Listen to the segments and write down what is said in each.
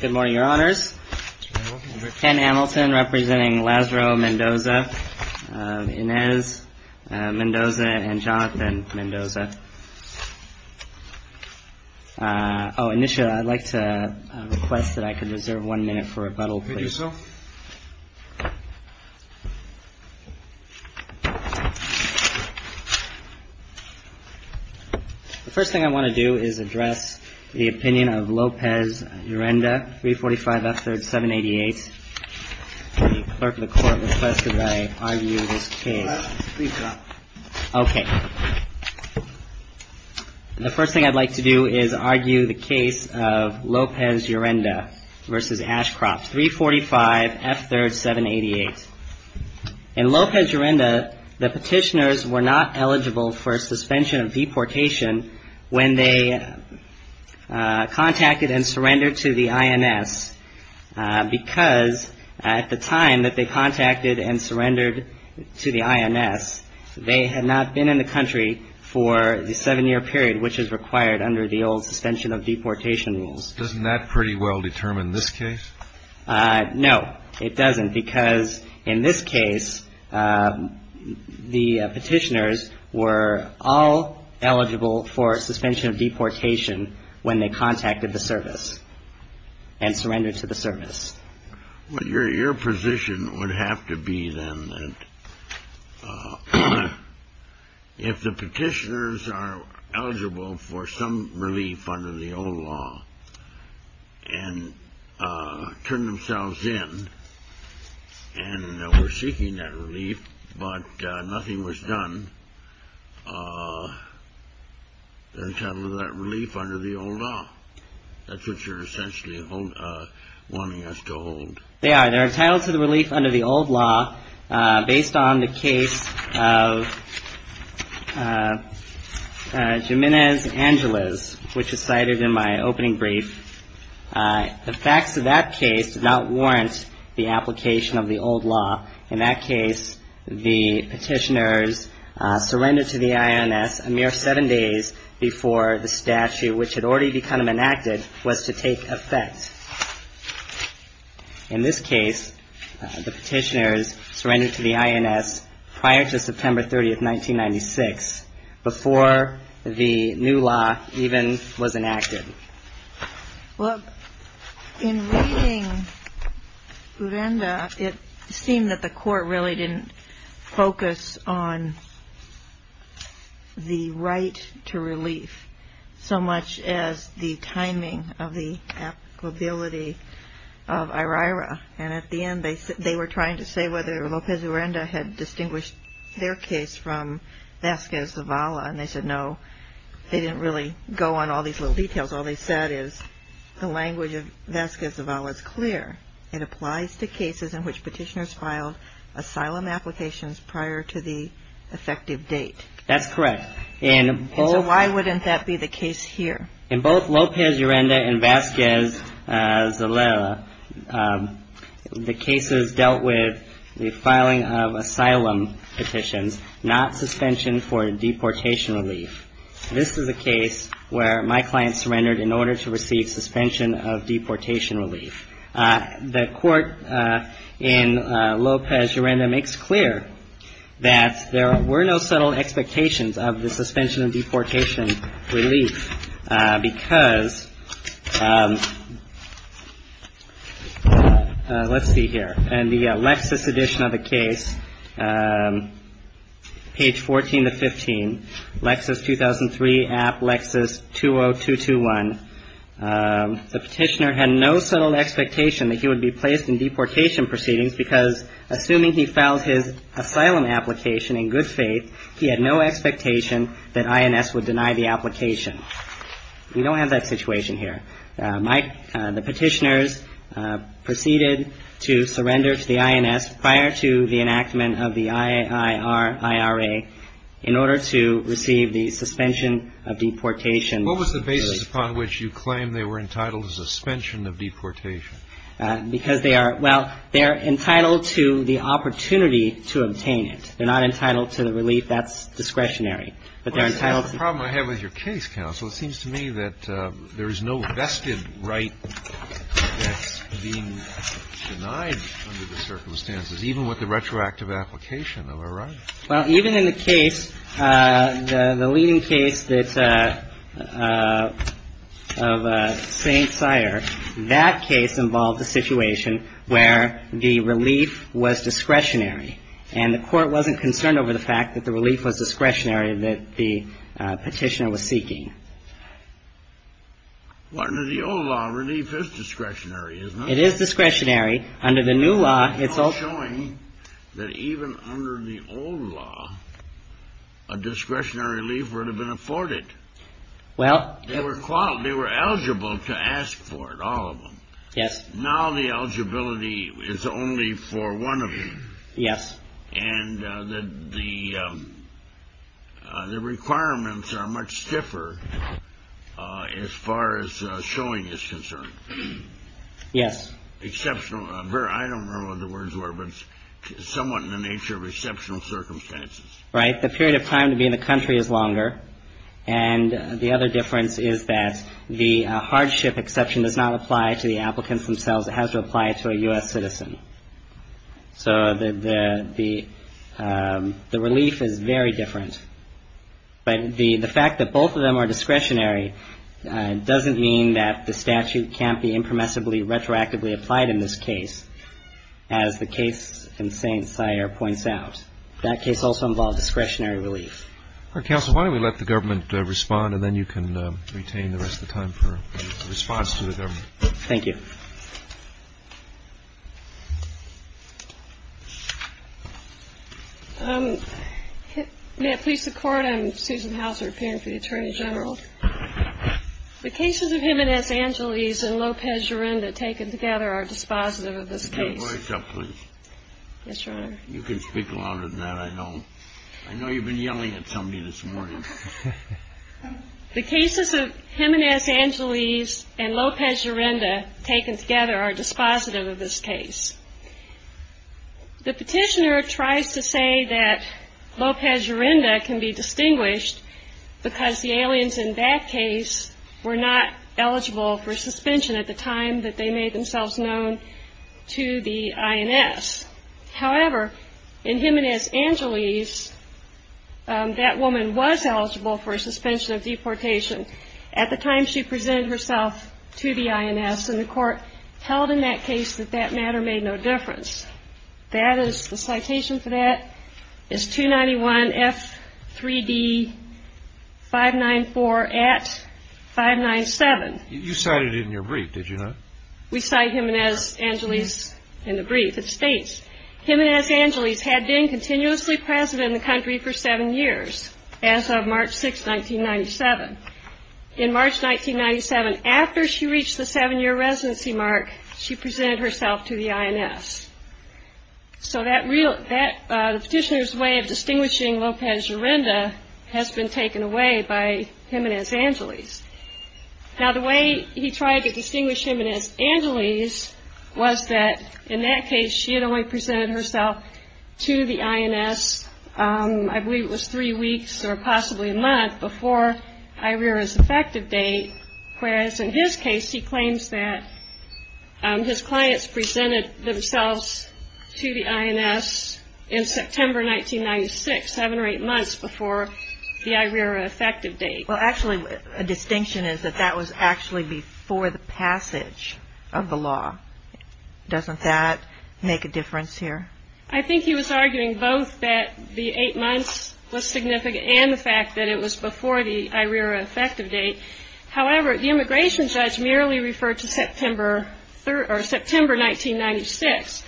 Good morning, Your Honors. Ken Hamilton representing Lazaro Mendoza, Inez Mendoza, and Jonathan Mendoza. Oh, initially, I'd like to request that I could reserve one minute for rebuttal, please. The first thing I want to do is address the opinion of Lopez-Urrenda, 345 F. 3rd, 788. The clerk of the court requested that I argue this case. Okay. The first thing I'd like to do is argue the case of Lopez-Urrenda v. Ashcroft, 345 F. 3rd, 788. In Lopez-Urrenda, the petitioners were not eligible for suspension of deportation when they contacted and surrendered to the INS, because at the time that they contacted and surrendered to the INS, they had not been in the country for the seven-year period which is required under the old suspension of deportation rules. Doesn't that pretty well determine this case? No, it doesn't, because in this case, the petitioners were all eligible for suspension of deportation when they contacted the service and surrendered to the service. Well, your position would have to be then that if the petitioners are eligible for some relief under the old law and turn themselves in, and we're seeking that relief, but nothing was done, they're entitled to that relief under the old law. That's what you're essentially wanting us to hold. They are. They're entitled to the relief under the old law based on the case of Jimenez-Angeles, which is cited in my opening brief. The facts of that case do not warrant the application of the old law. In that case, the petitioners surrendered to the INS a mere seven days before the statute, which had already become enacted, was to take effect. In this case, the petitioners surrendered to the INS prior to September 30th, 1996, before the new law even was enacted. Well, in reading Urenda, it seemed that the court really didn't focus on the right to relief so much as the timing of the applicability of IRIRA. And at the end, they were trying to say whether Lopez Urenda had distinguished their case from Vasquez Zavala. And they said, no, they didn't really go on all these little details. All they said is the language of Vasquez Zavala is clear. It applies to cases in which petitioners filed asylum applications prior to the effective date. That's correct. And so why wouldn't that be the case here? In both Lopez Urenda and Vasquez Zavala, the cases dealt with the filing of asylum petitions, not suspension for deportation relief. This is a case where my client surrendered in order to receive suspension of deportation relief. The court in Lopez Urenda makes clear that there were no subtle expectations of the suspension of deportation relief because, let's see here. In the Lexis edition of the case, page 14 to 15, Lexis 2003, app Lexis 20221, the petitioner had no subtle expectation that he would be placed in deportation proceedings because, assuming he filed his asylum application in good faith, he had no expectation that INS would deny the application. We don't have that situation here. Mike, the petitioners proceeded to surrender to the INS prior to the enactment of the IIRIRA in order to receive the suspension of deportation relief. What was the basis upon which you claim they were entitled to suspension of deportation? Because they are – well, they are entitled to the opportunity to obtain it. They're not entitled to the relief that's discretionary. Well, that's the problem I have with your case, counsel. It seems to me that there is no vested right that's being denied under the circumstances, even with the retroactive application of a right. Well, even in the case, the leading case that – of St. Sire, that case involved a situation where the relief was discretionary, and the court wasn't concerned over the fact that the relief was discretionary that the petitioner was seeking. Well, under the old law, relief is discretionary, isn't it? It is discretionary. Under the new law, it's – You're not showing that even under the old law, a discretionary relief would have been afforded. Well – They were eligible to ask for it, all of them. Yes. Now the eligibility is only for one of them. Yes. And the requirements are much stiffer as far as showing is concerned. Yes. Exceptional – I don't remember what the words were, but somewhat in the nature of exceptional circumstances. Right. The period of time to be in the country is longer, and the other difference is that the hardship exception does not apply to the applicants themselves. It has to apply to a U.S. citizen. So the relief is very different. But the fact that both of them are discretionary doesn't mean that the statute can't be impermissibly, retroactively applied in this case, as the case in St. Sire points out. That case also involved discretionary relief. All right, counsel, why don't we let the government respond, and then you can retain the rest of the time for a response to the government. Thank you. Thank you. May it please the Court, I'm Susan Houser, appearing for the Attorney General. The cases of Jimenez-Angeles and Lopez-Urrenda taken together are dispositive of this case. Could you voice up, please? Yes, Your Honor. You can speak louder than that, I know. I know you've been yelling at somebody this morning. The cases of Jimenez-Angeles and Lopez-Urrenda taken together are dispositive of this case. The petitioner tries to say that Lopez-Urrenda can be distinguished because the aliens in that case were not eligible for suspension at the time that they made themselves known to the INS. However, in Jimenez-Angeles, that woman was eligible for a suspension of deportation at the time she presented herself to the INS, and the Court held in that case that that matter made no difference. That is, the citation for that is 291F3D594 at 597. You cited it in your brief, did you not? We cite Jimenez-Angeles in the brief. It states, Jimenez-Angeles had been continuously present in the country for seven years as of March 6, 1997. In March 1997, after she reached the seven-year residency mark, she presented herself to the INS. So the petitioner's way of distinguishing Lopez-Urrenda has been taken away by Jimenez-Angeles. Now, the way he tried to distinguish Jimenez-Angeles was that in that case she had only presented herself to the INS, I believe it was three weeks or possibly a month before IRERA's effective date, whereas in his case he claims that his clients presented themselves to the INS in September 1996, seven or eight months before the IRERA effective date. Well, actually, a distinction is that that was actually before the passage of the law. Doesn't that make a difference here? I think he was arguing both that the eight months was significant and the fact that it was before the IRERA effective date. However, the immigration judge merely referred to September 1996.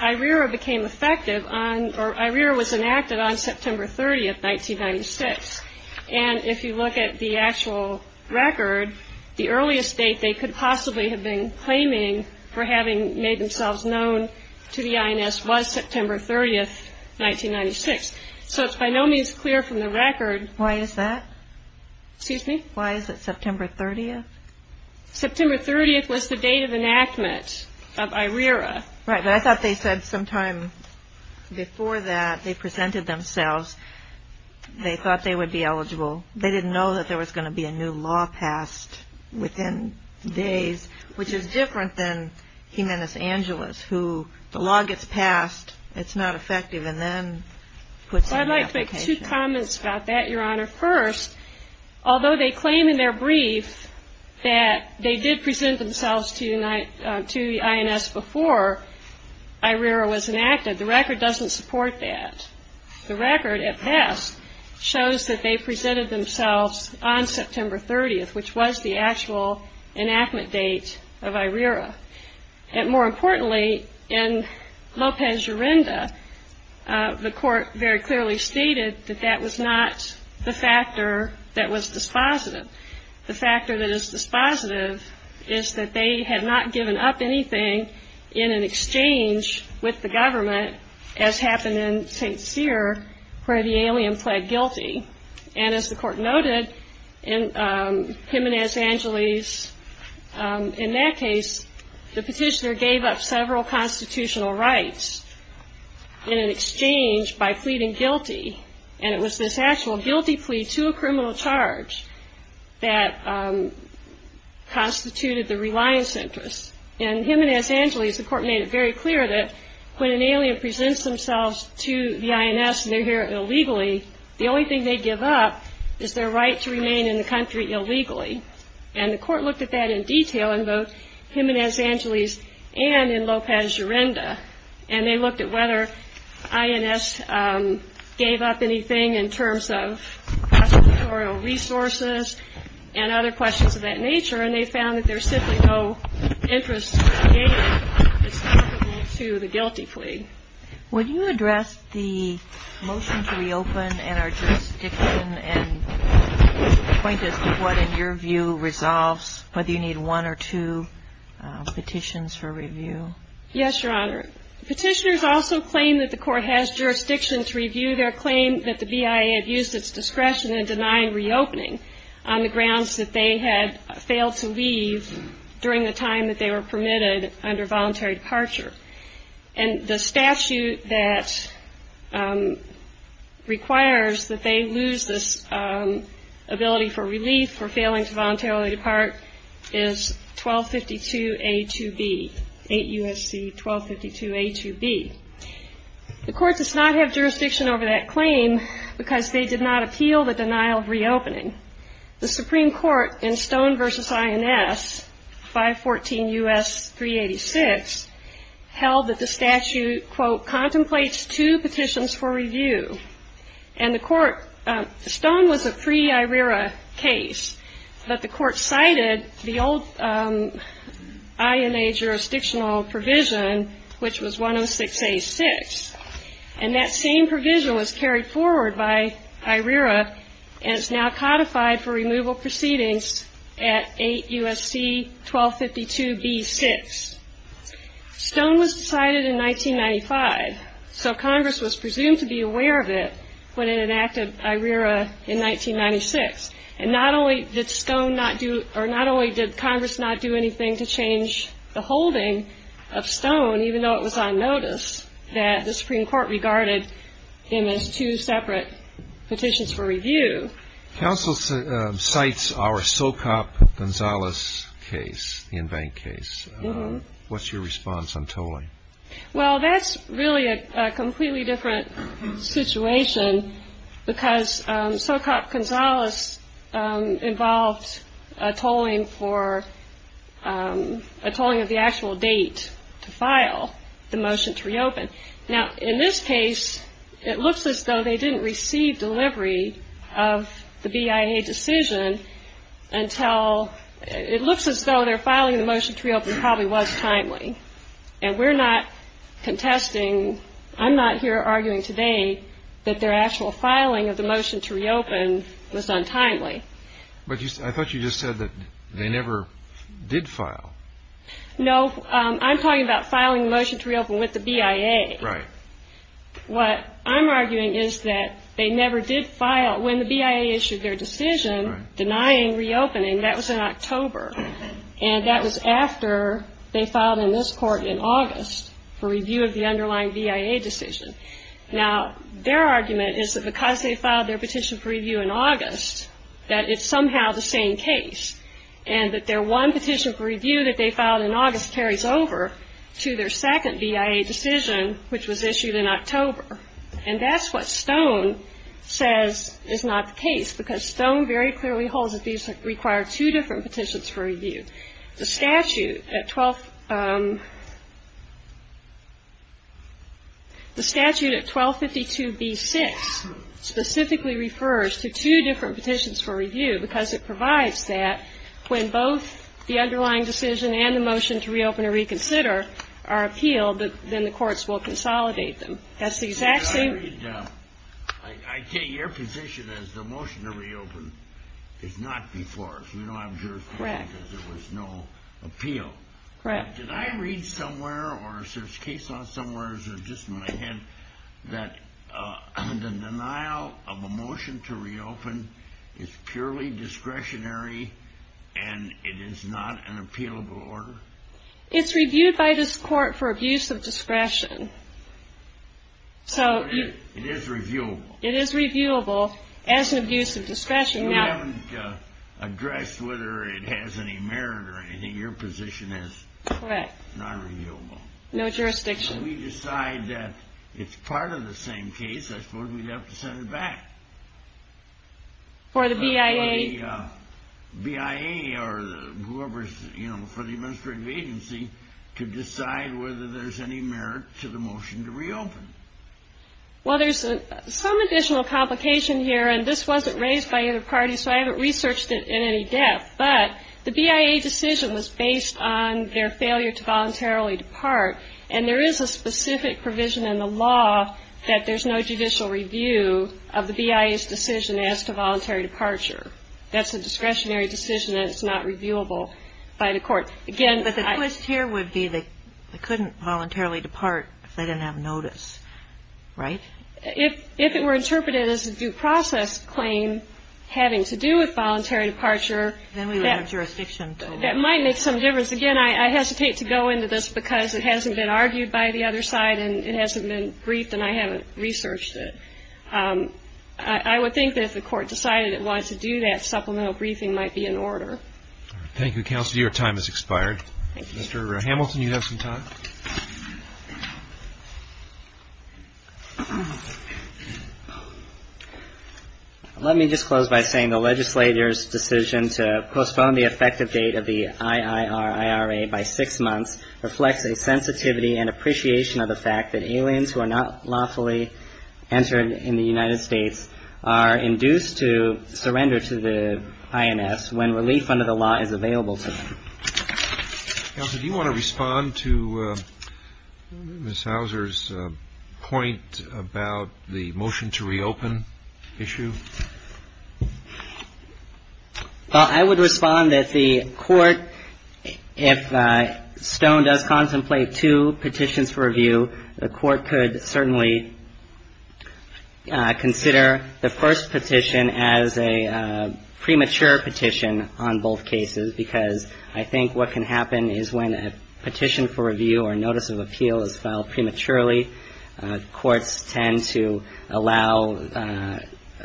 IRERA became effective on or IRERA was enacted on September 30, 1996. And if you look at the actual record, the earliest date they could possibly have been claiming for having made themselves known to the INS was September 30, 1996. So it's by no means clear from the record. Why is that? Excuse me? Why is it September 30th? September 30th was the date of enactment of IRERA. Right, but I thought they said sometime before that they presented themselves. They thought they would be eligible. They didn't know that there was going to be a new law passed within days, which is different than Jimenez Angeles, who the law gets passed, it's not effective, and then puts in the application. Well, I'd like to make two comments about that, Your Honor. First, although they claim in their brief that they did present themselves to the INS before IRERA was enacted, the record doesn't support that. The record, at best, shows that they presented themselves on September 30th, which was the actual enactment date of IRERA. And more importantly, in Lopez-Urrenda, the court very clearly stated that that was not the factor that was dispositive. The factor that is dispositive is that they had not given up anything in an exchange with the government, as happened in St. Cyr, where the alien pled guilty. And as the court noted, in Jimenez Angeles, in that case, the petitioner gave up several constitutional rights in an exchange by pleading guilty. And it was this actual guilty plea to a criminal charge that constituted the reliance interest. In Jimenez Angeles, the court made it very clear that when an alien presents themselves to the INS and they're here illegally, the only thing they give up is their right to remain in the country illegally. And the court looked at that in detail in both Jimenez Angeles and in Lopez-Urrenda. And they looked at whether INS gave up anything in terms of constitutorial resources and other questions of that nature, and they found that there's simply no interest to the guilty plea. Would you address the motion to reopen and our jurisdiction and point us to what, in your view, resolves whether you need one or two petitions for review? Yes, Your Honor. Petitioners also claim that the court has jurisdiction to review their claim that the BIA have used its discretion in denying reopening on the grounds that they had failed to leave during the time that they were permitted under voluntary departure. And the statute that requires that they lose this ability for relief for failing to voluntarily depart is 1252A2B. 8 U.S.C. 1252A2B. The court does not have jurisdiction over that claim because they did not appeal the denial of reopening. The Supreme Court in Stone v. INS, 514 U.S. 386, held that the statute, quote, contemplates two petitions for review. And the court, Stone was a pre-IRERA case, but the court cited the old INA jurisdiction. And that same provision was carried forward by IRERA, and it's now codified for removal proceedings at 8 U.S.C. 1252B6. Stone was cited in 1995, so Congress was presumed to be aware of it when it enacted IRERA in 1996. And not only did Stone not do, or not only did Congress not do anything to change the holding of Stone, even though it was on notice, that the Supreme Court regarded him as two separate petitions for review. Counsel cites our Socop-Gonzalez case, the in-bank case. What's your response on Tolley? Well, that's really a completely different situation because Socop-Gonzalez involved a tolling for, a tolling of the actual date to file the motion to reopen. Now, in this case, it looks as though they didn't receive delivery of the BIA decision until, it looks as though their filing the motion to reopen probably was timely. And we're not contesting, I'm not here arguing today that their actual filing of the motion to reopen was untimely. But I thought you just said that they never did file. No, I'm talking about filing the motion to reopen with the BIA. Right. What I'm arguing is that they never did file, when the BIA issued their decision denying reopening, that was in October. And that was after they filed in this Court in August for review of the underlying BIA decision. Now, their argument is that because they filed their petition for review in August, that it's somehow the same case. And that their one petition for review that they filed in August carries over to their second BIA decision, which was issued in August. And that's what Stone says is not the case, because Stone very clearly holds that these require two different petitions for review. The statute at 1252b-6 specifically refers to two different petitions for review, because it provides that when both the underlying decision and the motion to reopen and reconsider are appealed, then the courts will consolidate them. That's the exact same... I take your position as the motion to reopen is not before us. We don't have jurisdiction because there was no appeal. Did I read somewhere, or is there a case somewhere, or is it just in my head, that the denial of a motion to reopen is purely discretionary, and it is not an appealable order? It's reviewed by this Court for abuse of discretion. It is reviewable. It is reviewable as an abuse of discretion. We haven't addressed whether it has any merit or anything. Your position is not reviewable. No jurisdiction. We decide that it's part of the same case. I suppose we'd have to send it back. For the BIA. For the administrative agency to decide whether there's any merit to the motion to reopen. Well, there's some additional complication here, and this wasn't raised by either party, so I haven't researched it in any depth. But the BIA decision was based on their failure to voluntarily depart, and there is a specific provision in the law that there's no judicial review of the BIA's decision as to voluntary departure. That's a discretionary decision, and it's not reviewable by the Court. But the twist here would be they couldn't voluntarily depart if they didn't have notice, right? If it were interpreted as a due process claim having to do with voluntary departure, that might make some difference. Again, I hesitate to go into this because it hasn't been argued by the other side, and it hasn't been briefed, and I haven't researched it. I would think that if the Court decided it wanted to do that, supplemental briefing might be in order. Thank you, counsel. Your time has expired. Mr. Hamilton, you have some time. Let me just close by saying the legislator's decision to postpone the effective date of the IIRIRA by six months reflects a sensitivity and appreciation of the fact that aliens who are not lawfully entered in the United States are induced to surrender to the INS when relief under the law is available to them. Counsel, do you want to respond to Ms. Houser's point about the fact that the IIRRA is not in the United States? Well, I would respond that the Court, if Stone does contemplate two petitions for review, the Court could certainly consider the first petition as a premature petition on both cases, because I think what can happen is when a petition for review or notice of appeal is filed prematurely, courts tend to allow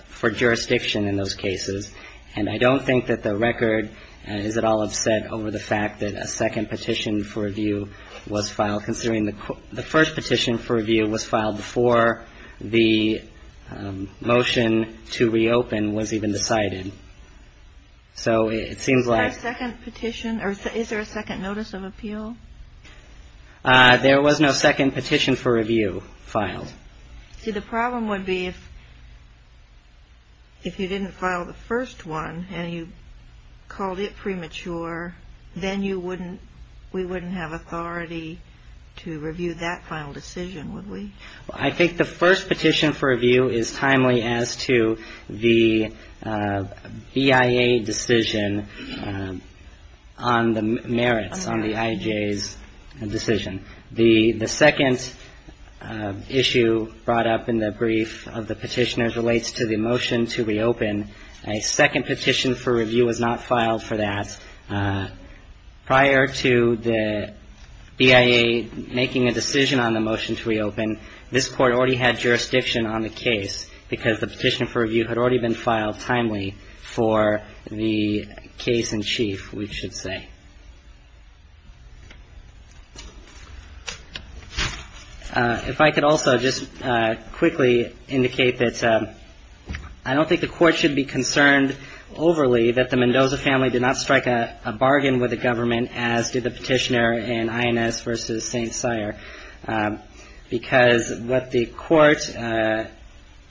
for jurisdiction in those cases. And I don't think that the record is at all upset over the fact that a second petition for review was filed, considering the first petition for review was filed before the motion to reopen was even decided. So it seems like... Is there a second petition or is there a second notice of appeal? There was no second petition for review filed. See, the problem would be if you didn't file the first one and you called it premature, then we wouldn't have authority to review that final decision, would we? I think the first petition for review is timely as to the BIA decision on the merits, on the IJ's decision. The second issue brought up in the brief of the petitioners relates to the motion to reopen. A second petition for review was not filed for that. Prior to the BIA making a decision on the motion to reopen, this Court already had jurisdiction on the case, because the petition for review had already been filed timely for the case in chief, we should say. If I could also just quickly indicate that I don't think the Court should be concerned overly that the Mendoza family did not strike a bargain with the government, as did the petitioner in INS v. St. Sire, because what the Court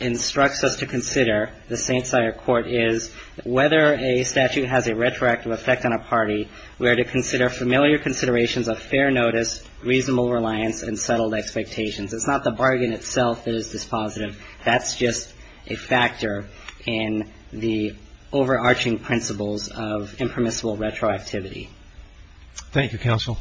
instructs us to consider, the St. Sire Court, is whether a statute has a retroactive effect on a party, we are to consider familiar considerations of fair notice, reasonable reliance, and settled expectations. It's not the bargain itself that is dispositive. That's just a factor in the overarching principles of impermissible retroactivity. Thank you, Counsel.